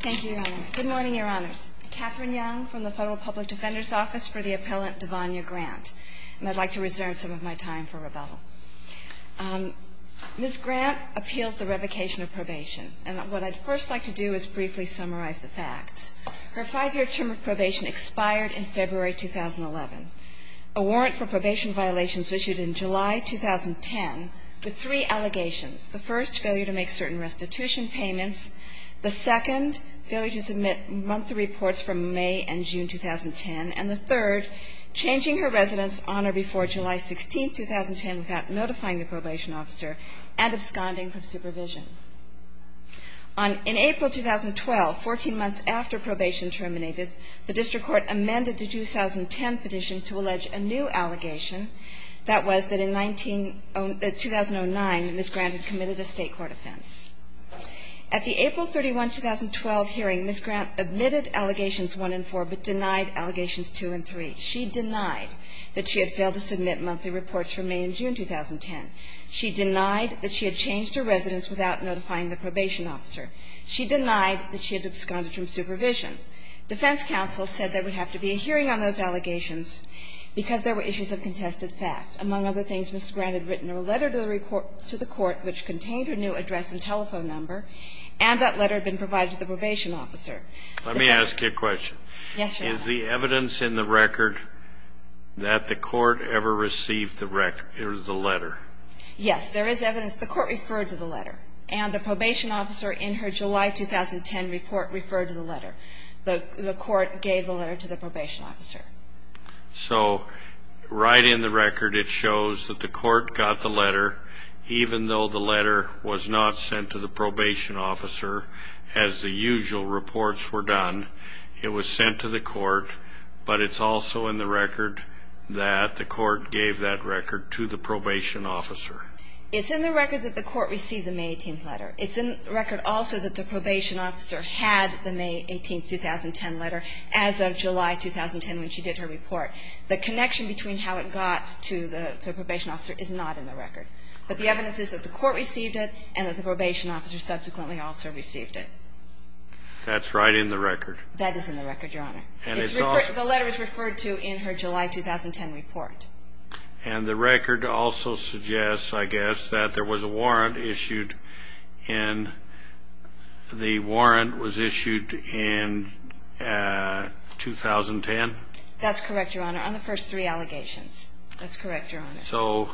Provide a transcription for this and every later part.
Thank you, Your Honor. Good morning, Your Honors. Katherine Young from the Federal Public Defender's Office for the Appellant Davonya Grant. And I'd like to reserve some of my time for rebuttal. Ms. Grant appeals the revocation of probation, and what I'd first like to do is briefly summarize the facts. Her five-year term of probation expired in February 2011. A warrant for probation violations was issued in July 2010 with three allegations, the first, failure to make certain restitution payments, the second, failure to submit monthly reports from May and June 2010, and the third, changing her residence on or before July 16, 2010, without notifying the probation officer and absconding from supervision. In April 2012, 14 months after probation terminated, the district court amended the 2010 petition to allege a new allegation. That was that in 2009, Ms. Grant had committed a State court offense. At the April 31, 2012 hearing, Ms. Grant admitted allegations 1 and 4, but denied allegations 2 and 3. She denied that she had failed to submit monthly reports from May and June 2010. She denied that she had changed her residence without notifying the probation officer. She denied that she had absconded from supervision. Defense counsel said there would have to be a hearing on those allegations because there were issues of contested fact. Among other things, Ms. Grant had written a letter to the court which contained her new address and telephone number, and that letter had been provided to the probation officer. The fact is the evidence in the record that the court ever received the letter. Yes, there is evidence. The court referred to the letter, and the probation officer in her July 2010 report referred to the letter. The court gave the letter to the probation officer. So right in the record it shows that the court got the letter, even though the letter was not sent to the probation officer as the usual reports were done. It was sent to the court, but it's also in the record that the court gave that record to the probation officer. It's in the record also that the probation officer had the May 18, 2010 letter as of July 2010 when she did her report. The connection between how it got to the probation officer is not in the record. But the evidence is that the court received it and that the probation officer subsequently also received it. That's right in the record. That is in the record, Your Honor. And it's also the letter is referred to in her July 2010 report. And the record also suggests, I guess, that there was a warrant issued and the warrant was issued in 2010? That's correct, Your Honor, on the first three allegations. That's correct, Your Honor. So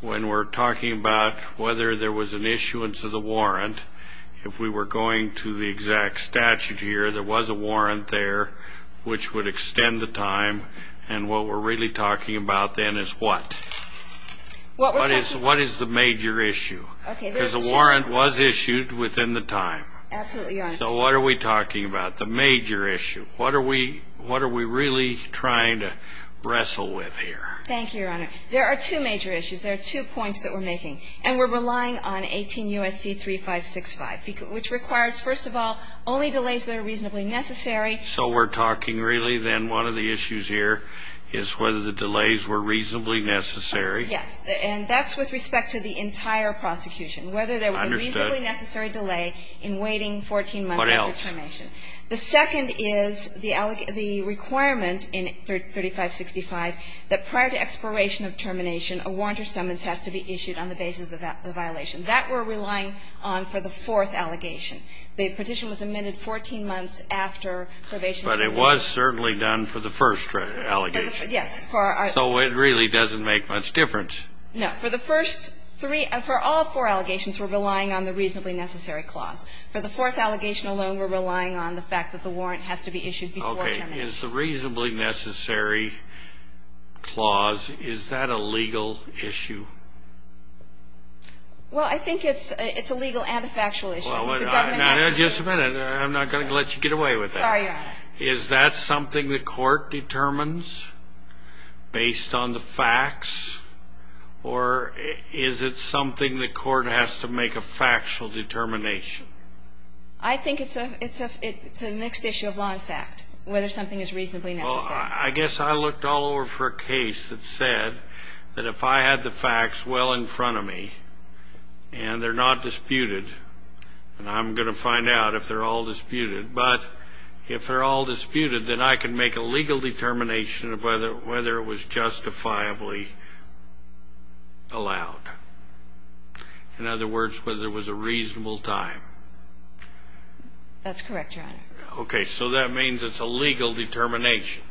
when we're talking about whether there was an issuance of the warrant, if we were going to the exact statute here, there was a warrant there which would extend the time. And what we're really talking about then is what? What is the major issue? Because a warrant was issued within the time. Absolutely, Your Honor. So what are we talking about? The major issue. What are we really trying to wrestle with here? Thank you, Your Honor. There are two major issues. There are two points that we're making. And we're relying on 18 U.S.C. 3565, which requires, first of all, only delays that are reasonably necessary. So we're talking really then one of the issues here is whether the delays were reasonably necessary. Yes. And that's with respect to the entire prosecution, whether there was a reasonably necessary delay in waiting 14 months after termination. What else? The second is the requirement in 3565 that prior to expiration of termination, a warrant or summons has to be issued on the basis of the violation. That we're relying on for the fourth allegation. The petition was amended 14 months after probation. But it was certainly done for the first allegation. Yes. So it really doesn't make much difference. No. For the first three, for all four allegations, we're relying on the reasonably necessary clause. For the fourth allegation alone, we're relying on the fact that the warrant has to be issued before termination. Okay. Is the reasonably necessary clause, is that a legal issue? Well, I think it's a legal and a factual issue. Just a minute. I'm not going to let you get away with that. Sorry, Your Honor. Is that something the court determines based on the facts? Or is it something the court has to make a factual determination? I think it's a mixed issue of law and fact, whether something is reasonably necessary. Well, I guess I looked all over for a case that said that if I had the facts well in front of me and they're not disputed, and I'm going to find out if they're all disputed, but if they're all disputed, then I can make a legal determination of whether it was justifiably allowed. In other words, whether it was a reasonable time. That's correct, Your Honor. Okay. So that means it's a legal determination.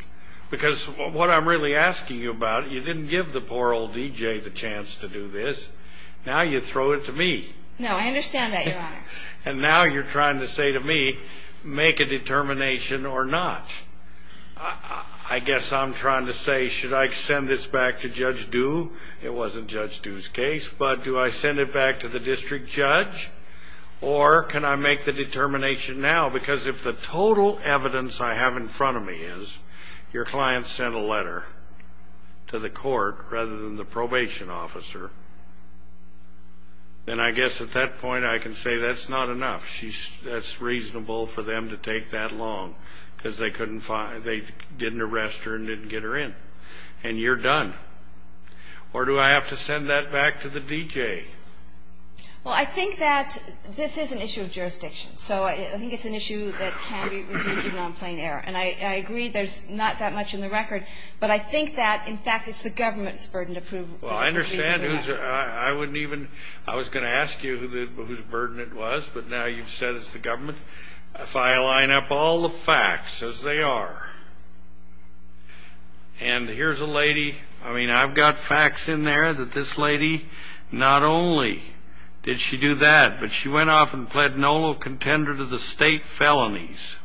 Because what I'm really asking you about, you didn't give the poor old D.J. the chance to do this. Now you throw it to me. No, I understand that, Your Honor. And now you're trying to say to me, make a determination or not. I guess I'm trying to say, should I send this back to Judge Due? It wasn't Judge Due's case. But do I send it back to the district judge? Or can I make the determination now? Because if the total evidence I have in front of me is your client sent a letter to the probation officer, then I guess at that point I can say that's not enough. That's reasonable for them to take that long, because they didn't arrest her and didn't get her in. And you're done. Or do I have to send that back to the D.J.? Well, I think that this is an issue of jurisdiction. So I think it's an issue that can be reviewed even on plain air. And I agree there's not that much in the record, but I think that, in fact, it's the government's burden to prove it. Well, I understand. I wouldn't even ‑‑ I was going to ask you whose burden it was, but now you've said it's the government. If I line up all the facts as they are, and here's a lady, I mean, I've got facts in there that this lady not only did she do that, but she went off and pled no contender to the state felonies.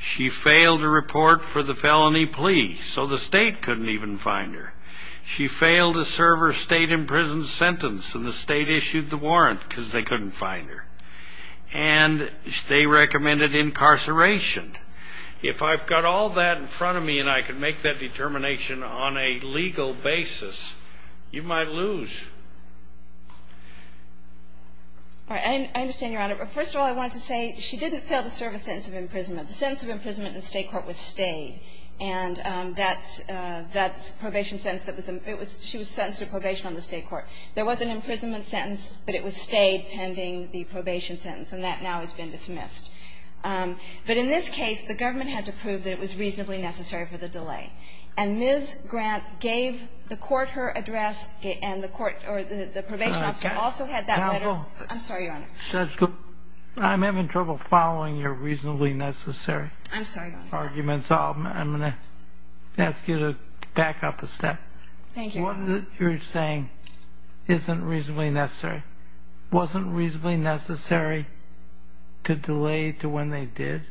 She failed to report for the felony plea, so the state couldn't even find her. She failed to serve her state-imprisoned sentence, and the state issued the warrant because they couldn't find her. And they recommended incarceration. If I've got all that in front of me and I can make that determination on a legal basis, you might lose. I understand, Your Honor. First of all, I wanted to say she didn't fail to serve a sentence of imprisonment. The sentence of imprisonment in the state court was stayed. And that probation sentence, she was sentenced to probation on the state court. There was an imprisonment sentence, but it was stayed pending the probation sentence, and that now has been dismissed. But in this case, the government had to prove that it was reasonably necessary for the delay. And Ms. Grant gave the court her address, and the court or the probation officer also had that letter. I'm sorry, Your Honor. Judge, I'm having trouble following your reasonably necessary arguments. I'm sorry, Your Honor. I'm going to ask you to back up a step. Thank you, Your Honor. What you're saying isn't reasonably necessary. Wasn't reasonably necessary to delay to when they did?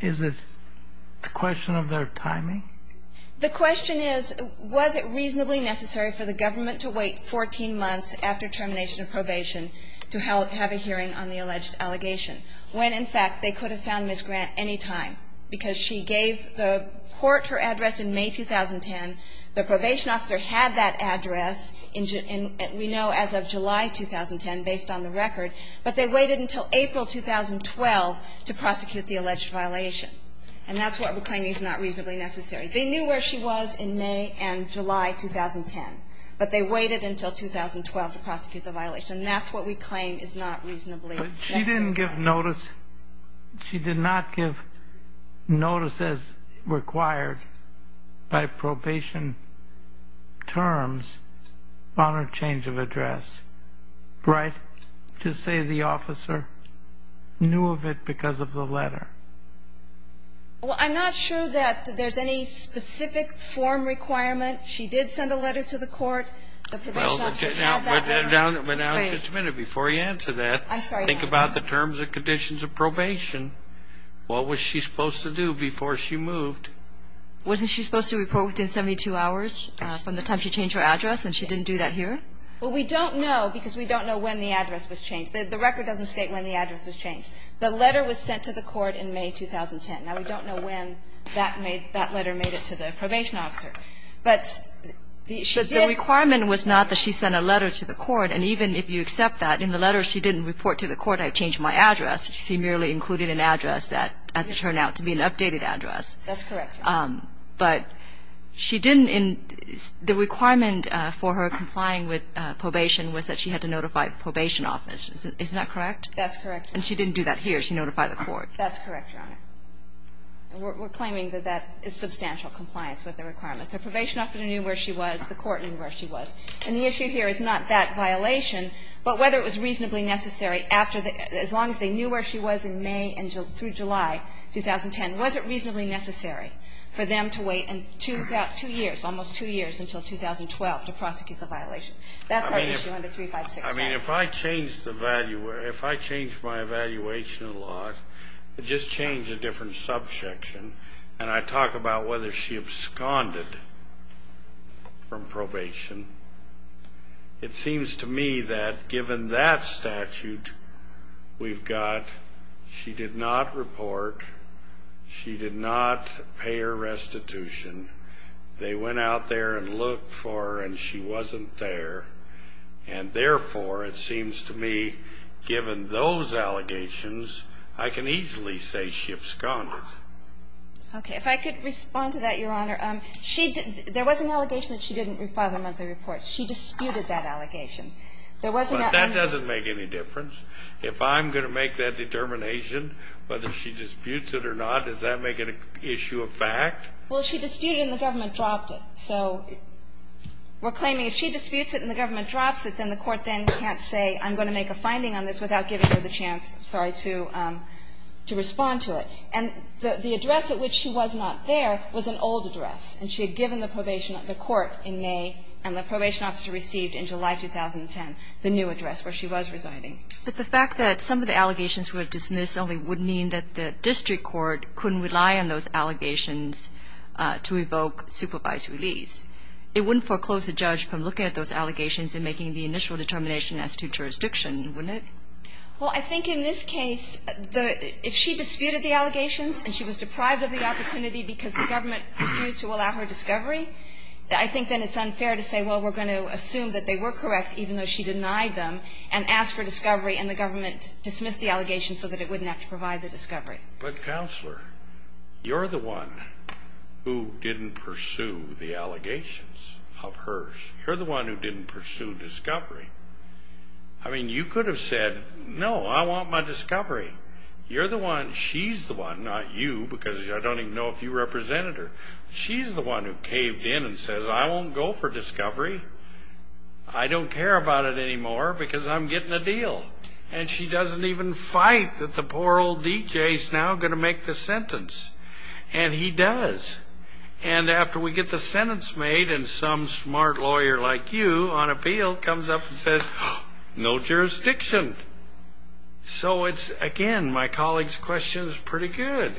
Is it a question of their timing? The question is, was it reasonably necessary for the government to wait 14 months after termination of probation to have a hearing on the alleged allegation when, in fact, they could have found Ms. Grant any time? Because she gave the court her address in May 2010. The probation officer had that address in, we know, as of July 2010 based on the record. But they waited until April 2012 to prosecute the alleged violation. And that's why we're claiming it's not reasonably necessary. They knew where she was in May and July 2010. But they waited until 2012 to prosecute the violation. And that's what we claim is not reasonably necessary. But she didn't give notice. She did not give notice as required by probation terms on her change of address. Right? To say the officer knew of it because of the letter. Well, I'm not sure that there's any specific form requirement. She did send a letter to the court. The probation officer had that letter. But now, just a minute. Before you answer that, think about the terms and conditions of probation. What was she supposed to do before she moved? Wasn't she supposed to report within 72 hours from the time she changed her address, and she didn't do that here? Well, we don't know because we don't know when the address was changed. The record doesn't state when the address was changed. The letter was sent to the court in May 2010. Now, we don't know when that letter made it to the probation officer. But the requirement was not that she sent a letter to the court. And even if you accept that, in the letter she didn't report to the court, I changed my address. She merely included an address that turned out to be an updated address. That's correct, Your Honor. But she didn't in the requirement for her complying with probation was that she had to notify probation office. Isn't that correct? That's correct, Your Honor. And she didn't do that here. She notified the court. That's correct, Your Honor. We're claiming that that is substantial compliance with the requirement. The probation officer knew where she was. The court knew where she was. And the issue here is not that violation, but whether it was reasonably necessary after the – as long as they knew where she was in May through July 2010, was it reasonably necessary for them to wait two years, almost two years, until 2012 to prosecute the violation? That's our issue under 3565. I mean, if I change the – if I change my evaluation a lot, just change a different subsection, and I talk about whether she absconded from probation, it seems to me that given that statute, we've got she did not report, she did not pay her restitution. They went out there and looked for her, and she wasn't there. And therefore, it seems to me, given those allegations, I can easily say she absconded. Okay. If I could respond to that, Your Honor. She – there was an allegation that she didn't file a monthly report. She disputed that allegation. There was an – But that doesn't make any difference. If I'm going to make that determination, whether she disputes it or not, does that make it an issue of fact? Well, she disputed it, and the government dropped it. So we're claiming if she disputes it and the government drops it, then the court then can't say I'm going to make a finding on this without giving her the chance, sorry, to respond to it. And the address at which she was not there was an old address, and she had given the probation – the court in May, and the probation officer received in July 2010, the new address where she was residing. But the fact that some of the allegations were dismissed only would mean that the district court couldn't rely on those allegations to evoke supervised release. It wouldn't foreclose a judge from looking at those allegations and making the initial determination as to jurisdiction, wouldn't it? Well, I think in this case, if she disputed the allegations and she was deprived of the opportunity because the government refused to allow her discovery, I think then it's unfair to say, well, we're going to assume that they were correct even though she denied them and asked for discovery and the government dismissed the counselor. You're the one who didn't pursue the allegations of hers. You're the one who didn't pursue discovery. I mean, you could have said, no, I want my discovery. You're the one – she's the one, not you, because I don't even know if you represented her. She's the one who caved in and says, I won't go for discovery. I don't care about it anymore because I'm getting a deal. And she doesn't even fight that the poor old DJ is now going to make the sentence. And he does. And after we get the sentence made and some smart lawyer like you on appeal comes up and says, no jurisdiction. So it's, again, my colleague's question is pretty good.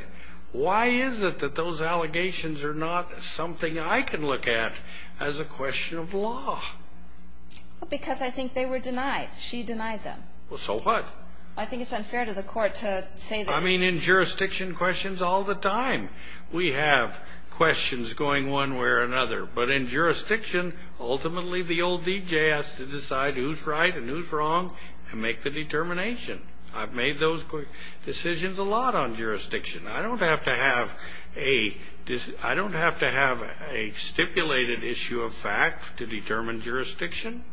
Why is it that those allegations are not something I can look at as a question of law? Because I think they were denied. She denied them. Well, so what? I think it's unfair to the court to say that. I mean, in jurisdiction, questions all the time. We have questions going one way or another. But in jurisdiction, ultimately the old DJ has to decide who's right and who's I've made those decisions a lot on jurisdiction. I don't have to have a stipulated issue of fact to determine jurisdiction.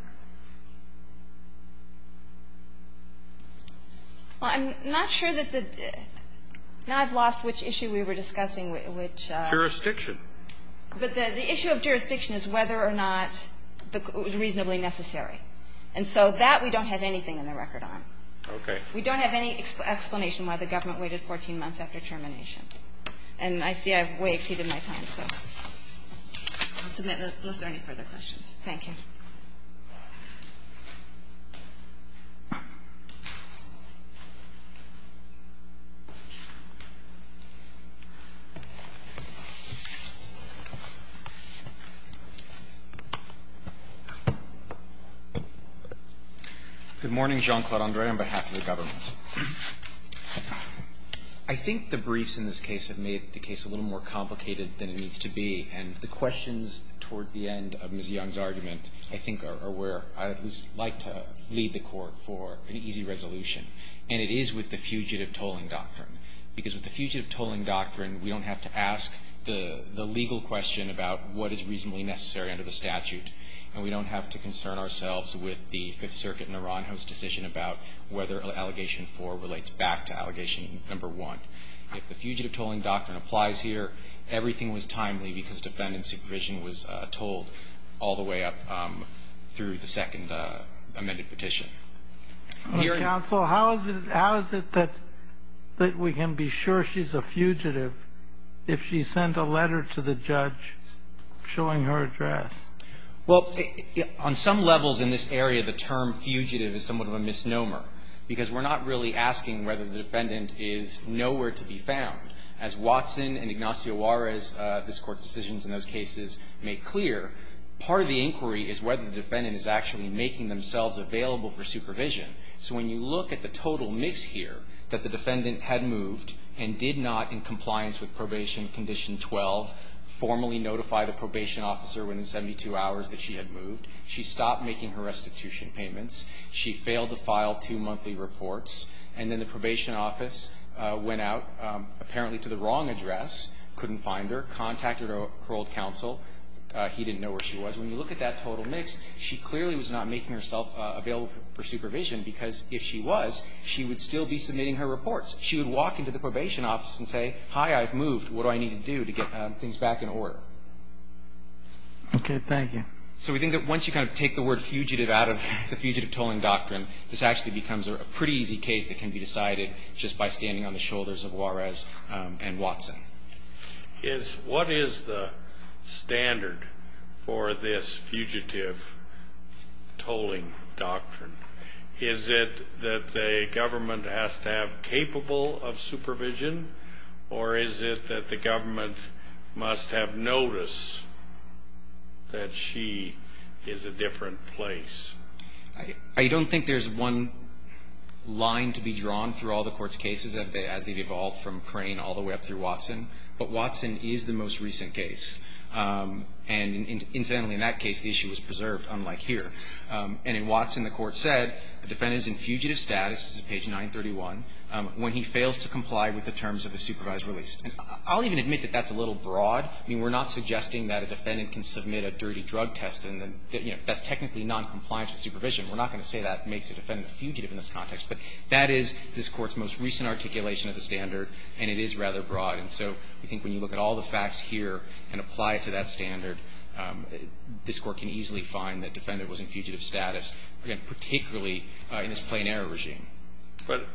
Well, I'm not sure that the ñ now I've lost which issue we were discussing, which ñ Jurisdiction. But the issue of jurisdiction is whether or not it was reasonably necessary. And so that we don't have anything in the record on. Okay. We don't have any explanation why the government waited 14 months after termination. And I see I've way exceeded my time, so. I'll submit unless there are any further questions. Thank you. Good morning. Jean-Claude Andre on behalf of the government. I think the briefs in this case have made the case a little more complicated than it needs to be. And the questions towards the end of Ms. Young's argument, I think, are where I'd at least like to lead the Court for an easy resolution. And it is with the fugitive tolling doctrine. Because with the fugitive tolling doctrine, we don't have to ask the legal question about what is reasonably necessary under the statute. And we don't have to concern ourselves with the Fifth Circuit in Aranjo's decision about whether Allegation 4 relates back to Allegation No. 1. If the fugitive tolling doctrine applies here, everything was timely because the defendant's supervision was told all the way up through the second amended petition. Your Honor. Counsel, how is it that we can be sure she's a fugitive if she sent a letter to the judge showing her address? Well, on some levels in this area, the term fugitive is somewhat of a misnomer because we're not really asking whether the defendant is nowhere to be found. As Watson and Ignacio Juarez, this Court's decisions in those cases, make clear, part of the inquiry is whether the defendant is actually making themselves available for supervision. So when you look at the total mix here, that the defendant had moved and did not, in compliance with Probation Condition 12, formally notify the probation officer within 72 hours that she had moved, she stopped making her restitution payments, she failed to file two monthly reports, and then the probation office went out apparently to the wrong address, couldn't find her, contacted her old counsel. He didn't know where she was. When you look at that total mix, she clearly was not making herself available for supervision because if she was, she would still be submitting her reports. She would walk into the probation office and say, hi, I've moved. What do I need to do to get things back in order? Okay. Thank you. So we think that once you kind of take the word fugitive out of the fugitive tolling doctrine, this actually becomes a pretty easy case that can be decided just by standing on the shoulders of Juarez and Watson. What is the standard for this fugitive tolling doctrine? Is it that the government has to have capable of supervision, or is it that the government must have notice that she is a different place? I don't think there's one line to be drawn through all the court's cases as they've evolved from Crane all the way up through Watson, but Watson is the most recent case. And incidentally, in that case, the issue was preserved, unlike here. And in Watson, the court said the defendant is in fugitive status, this is page 931, when he fails to comply with the terms of the supervised release. And I'll even admit that that's a little broad. I mean, we're not suggesting that a defendant can submit a dirty drug test and, you know, that's technically noncompliance with supervision. We're not going to say that makes a defendant a fugitive in this context, but that is this Court's most recent articulation of the standard, and it is rather broad. And so I think when you look at all the facts here and apply it to that standard, this Court can easily find that defendant was in fugitive status, again, particularly in this plain error regime. But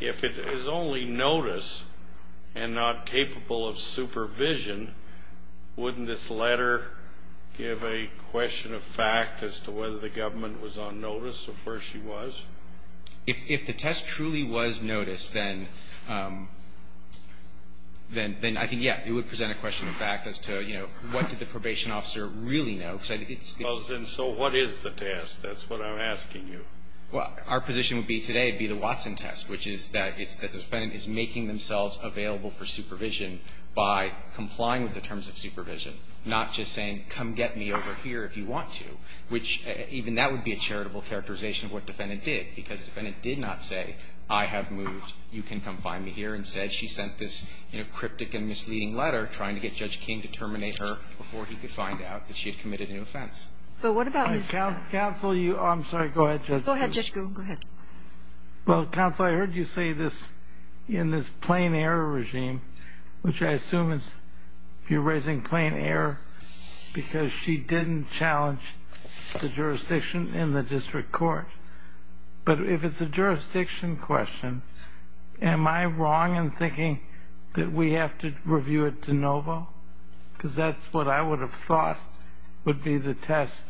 if it is only notice and not capable of supervision, wouldn't this letter give a question of fact as to whether the government was on notice of where she was? If the test truly was notice, then I think, yeah, it would present a question of fact as to, you know, what did the probation officer really know? Well, then so what is the test? That's what I'm asking you. Well, our position would be today, it would be the Watson test, which is that the defendant is making themselves available for supervision by complying with the terms of supervision, not just saying, come get me over here if you want to, which even that would be a charitable characterization of what the defendant did, because the defendant did not say, I have moved. You can come find me here. Instead, she sent this, you know, cryptic and misleading letter trying to get Judge King to terminate her before he could find out that she had committed an offense. Counsel, I'm sorry. Go ahead, Judge. Go ahead, Judge Goon. Go ahead. Well, counsel, I heard you say this in this plain error regime, which I assume is you're raising plain error because she didn't challenge the jurisdiction in the district court. But if it's a jurisdiction question, am I wrong in thinking that we have to review it de novo? Because that's what I would have thought would be the test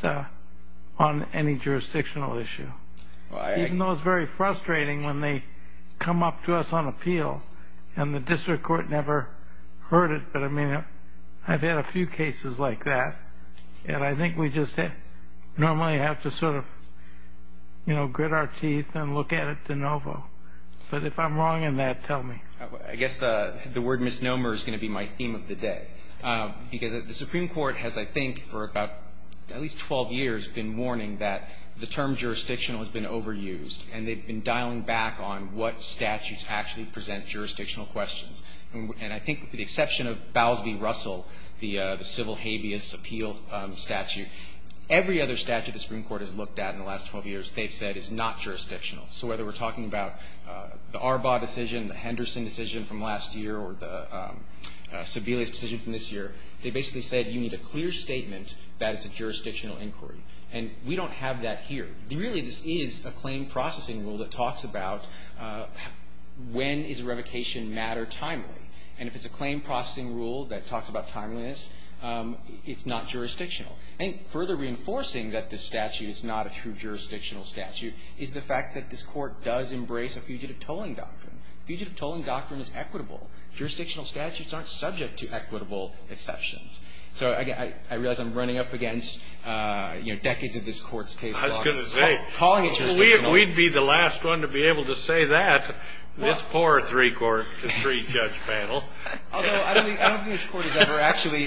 on any jurisdictional issue, even though it's very frustrating when they come up to us on appeal and the district court never heard it. But, I mean, I've had a few cases like that, and I think we just normally have to sort of, you know, grit our teeth and look at it de novo. But if I'm wrong in that, tell me. I guess the word misnomer is going to be my theme of the day. Because the Supreme Court has, I think, for about at least 12 years, been warning that the term jurisdictional has been overused, and they've been dialing back on what statutes actually present jurisdictional questions. And I think the exception of Bowles v. Russell, the civil habeas appeal statute, every other statute the Supreme Court has looked at in the last 12 years they've said is not jurisdictional. So whether we're talking about the Arbaugh decision, the Henderson decision from last year, or the Sebelius decision from this year, they basically said you need a clear statement that it's a jurisdictional inquiry. And we don't have that here. Really this is a claim processing rule that talks about when is revocation matter timely. And if it's a claim processing rule that talks about timeliness, it's not jurisdictional. And further reinforcing that this statute is not a true jurisdictional statute is the fact that this Court does embrace a fugitive tolling doctrine. Fugitive tolling doctrine is equitable. Jurisdictional statutes aren't subject to equitable exceptions. So I realize I'm running up against, you know, decades of this Court's case log. Kennedy, I was going to say, we'd be the last one to be able to say that, this poor three-court, three-judge panel. Although I don't think this Court has ever actually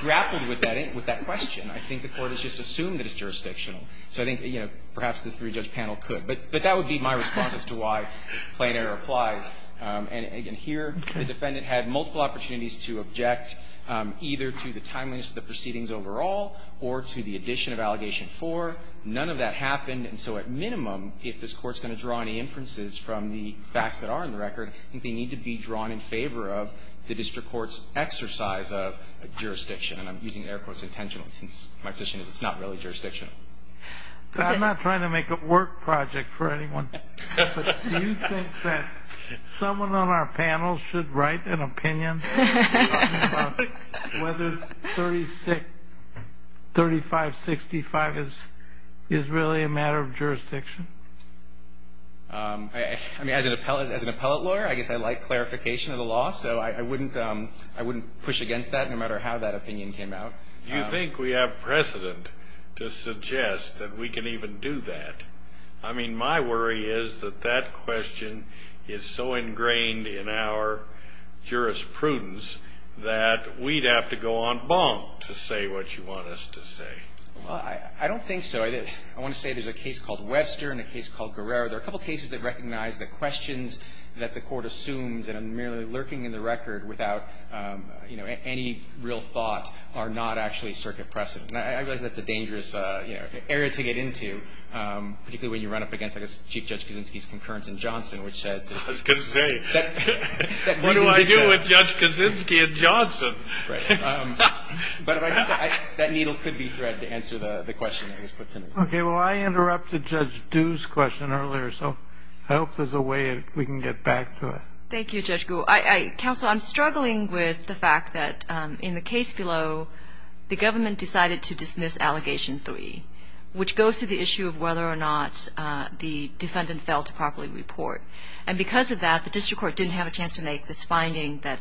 grappled with that question. I think the Court has just assumed that it's jurisdictional. So I think, you know, perhaps this three-judge panel could. But that would be my response as to why plain error applies. And here the defendant had multiple opportunities to object either to the timeliness of the proceedings overall or to the addition of Allegation 4. None of that happened. And so at minimum, if this Court's going to draw any inferences from the facts that are in the record, I think they need to be drawn in favor of the district court's exercise of jurisdiction. And I'm using the air quotes intentionally since my position is it's not really jurisdictional. I'm not trying to make a work project for anyone. But do you think that someone on our panel should write an opinion about whether 3565 is really a matter of jurisdiction? I mean, as an appellate lawyer, I guess I like clarification of the law. So I wouldn't push against that no matter how that opinion came out. Do you think we have precedent to suggest that we can even do that? I mean, my worry is that that question is so ingrained in our jurisprudence that we'd have to go on bonk to say what you want us to say. Well, I don't think so. I want to say there's a case called Webster and a case called Guerrero. There are a couple cases that recognize the questions that the Court assumes that are merely lurking in the record without, you know, any real thought are not actually circuit precedent. And I realize that's a dangerous area to get into, particularly when you run up against, I guess, Chief Judge Kaczynski's concurrence in Johnson, which says that this condition. I was going to say, what do I do with Judge Kaczynski in Johnson? Right. But I think that needle could be thread to answer the question that was put to me. Okay. Well, I interrupted Judge Dew's question earlier, so I hope there's a way we can get back to it. Thank you, Judge Gould. Counsel, I'm struggling with the fact that in the case below, the government decided to dismiss Allegation 3, which goes to the issue of whether or not the defendant failed to properly report. And because of that, the district court didn't have a chance to make this finding that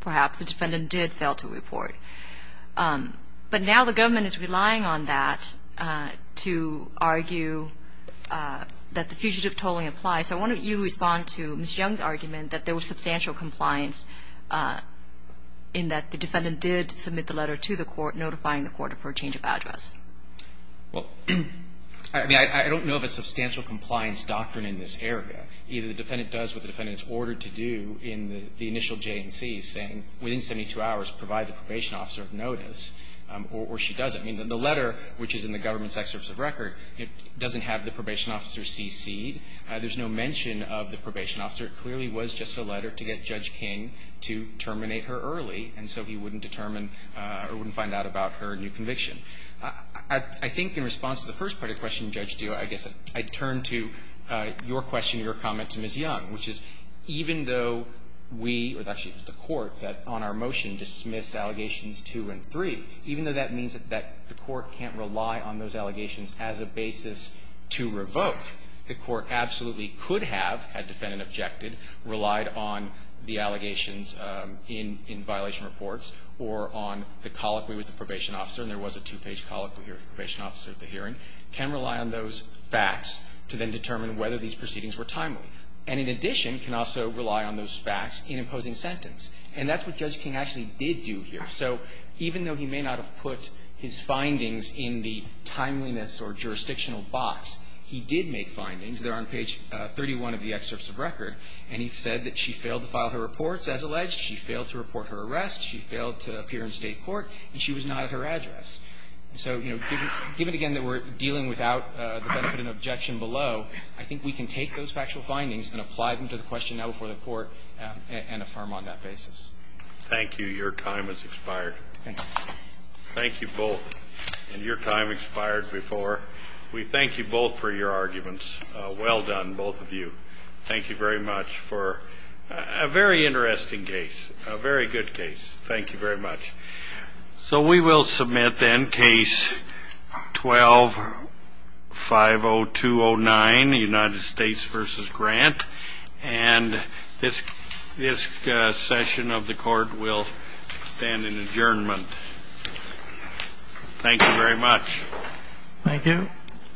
perhaps the defendant did fail to report. But now the government is relying on that to argue that the fugitive tolling applies. So why don't you respond to Ms. Young's argument that there was substantial compliance in that the defendant did submit the letter to the court notifying the court for a change of address? Well, I mean, I don't know of a substantial compliance doctrine in this area. Either the defendant does what the defendant is ordered to do in the initial J&C, saying, within 72 hours, provide the probation officer with notice, or she doesn't. I mean, the letter, which is in the government's excerpts of record, doesn't have the probation officer CC'd. There's no mention of the probation officer. It clearly was just a letter to get Judge King to terminate her early, and so he wouldn't determine or wouldn't find out about her new conviction. I think in response to the first part of your question, Judge Dewey, I guess I'd turn to your question, your comment to Ms. Young, which is even though we or actually the court that on our motion dismissed Allegations 2 and 3, even though that means that the court can't rely on those allegations as a basis to revoke, the court absolutely could have, had defendant objected, relied on the allegations in violation reports or on the colloquy with the probation officer, and there was a two-page colloquy with the probation officer at the hearing, can rely on those facts to then determine whether these proceedings were timely and, in addition, can also rely on those facts in imposing sentence. And that's what Judge King actually did do here. So even though he may not have put his findings in the timeliness or jurisdictional box, he did make findings. They're on page 31 of the excerpts of record, and he said that she failed to file her reports as alleged, she failed to report her arrest, she failed to appear in State court, and she was not at her address. So, you know, given again that we're dealing without the benefit and objection below, I think we can take those factual findings and apply them to the question now before the court and affirm on that basis. Thank you. Your time has expired. Thank you. Thank you both. And your time expired before. We thank you both for your arguments. Well done, both of you. Thank you very much for a very interesting case, a very good case. Thank you very much. So we will submit then Case 12-50209, United States v. Grant. And this session of the Court will stand in adjournment. Thank you very much. Thank you.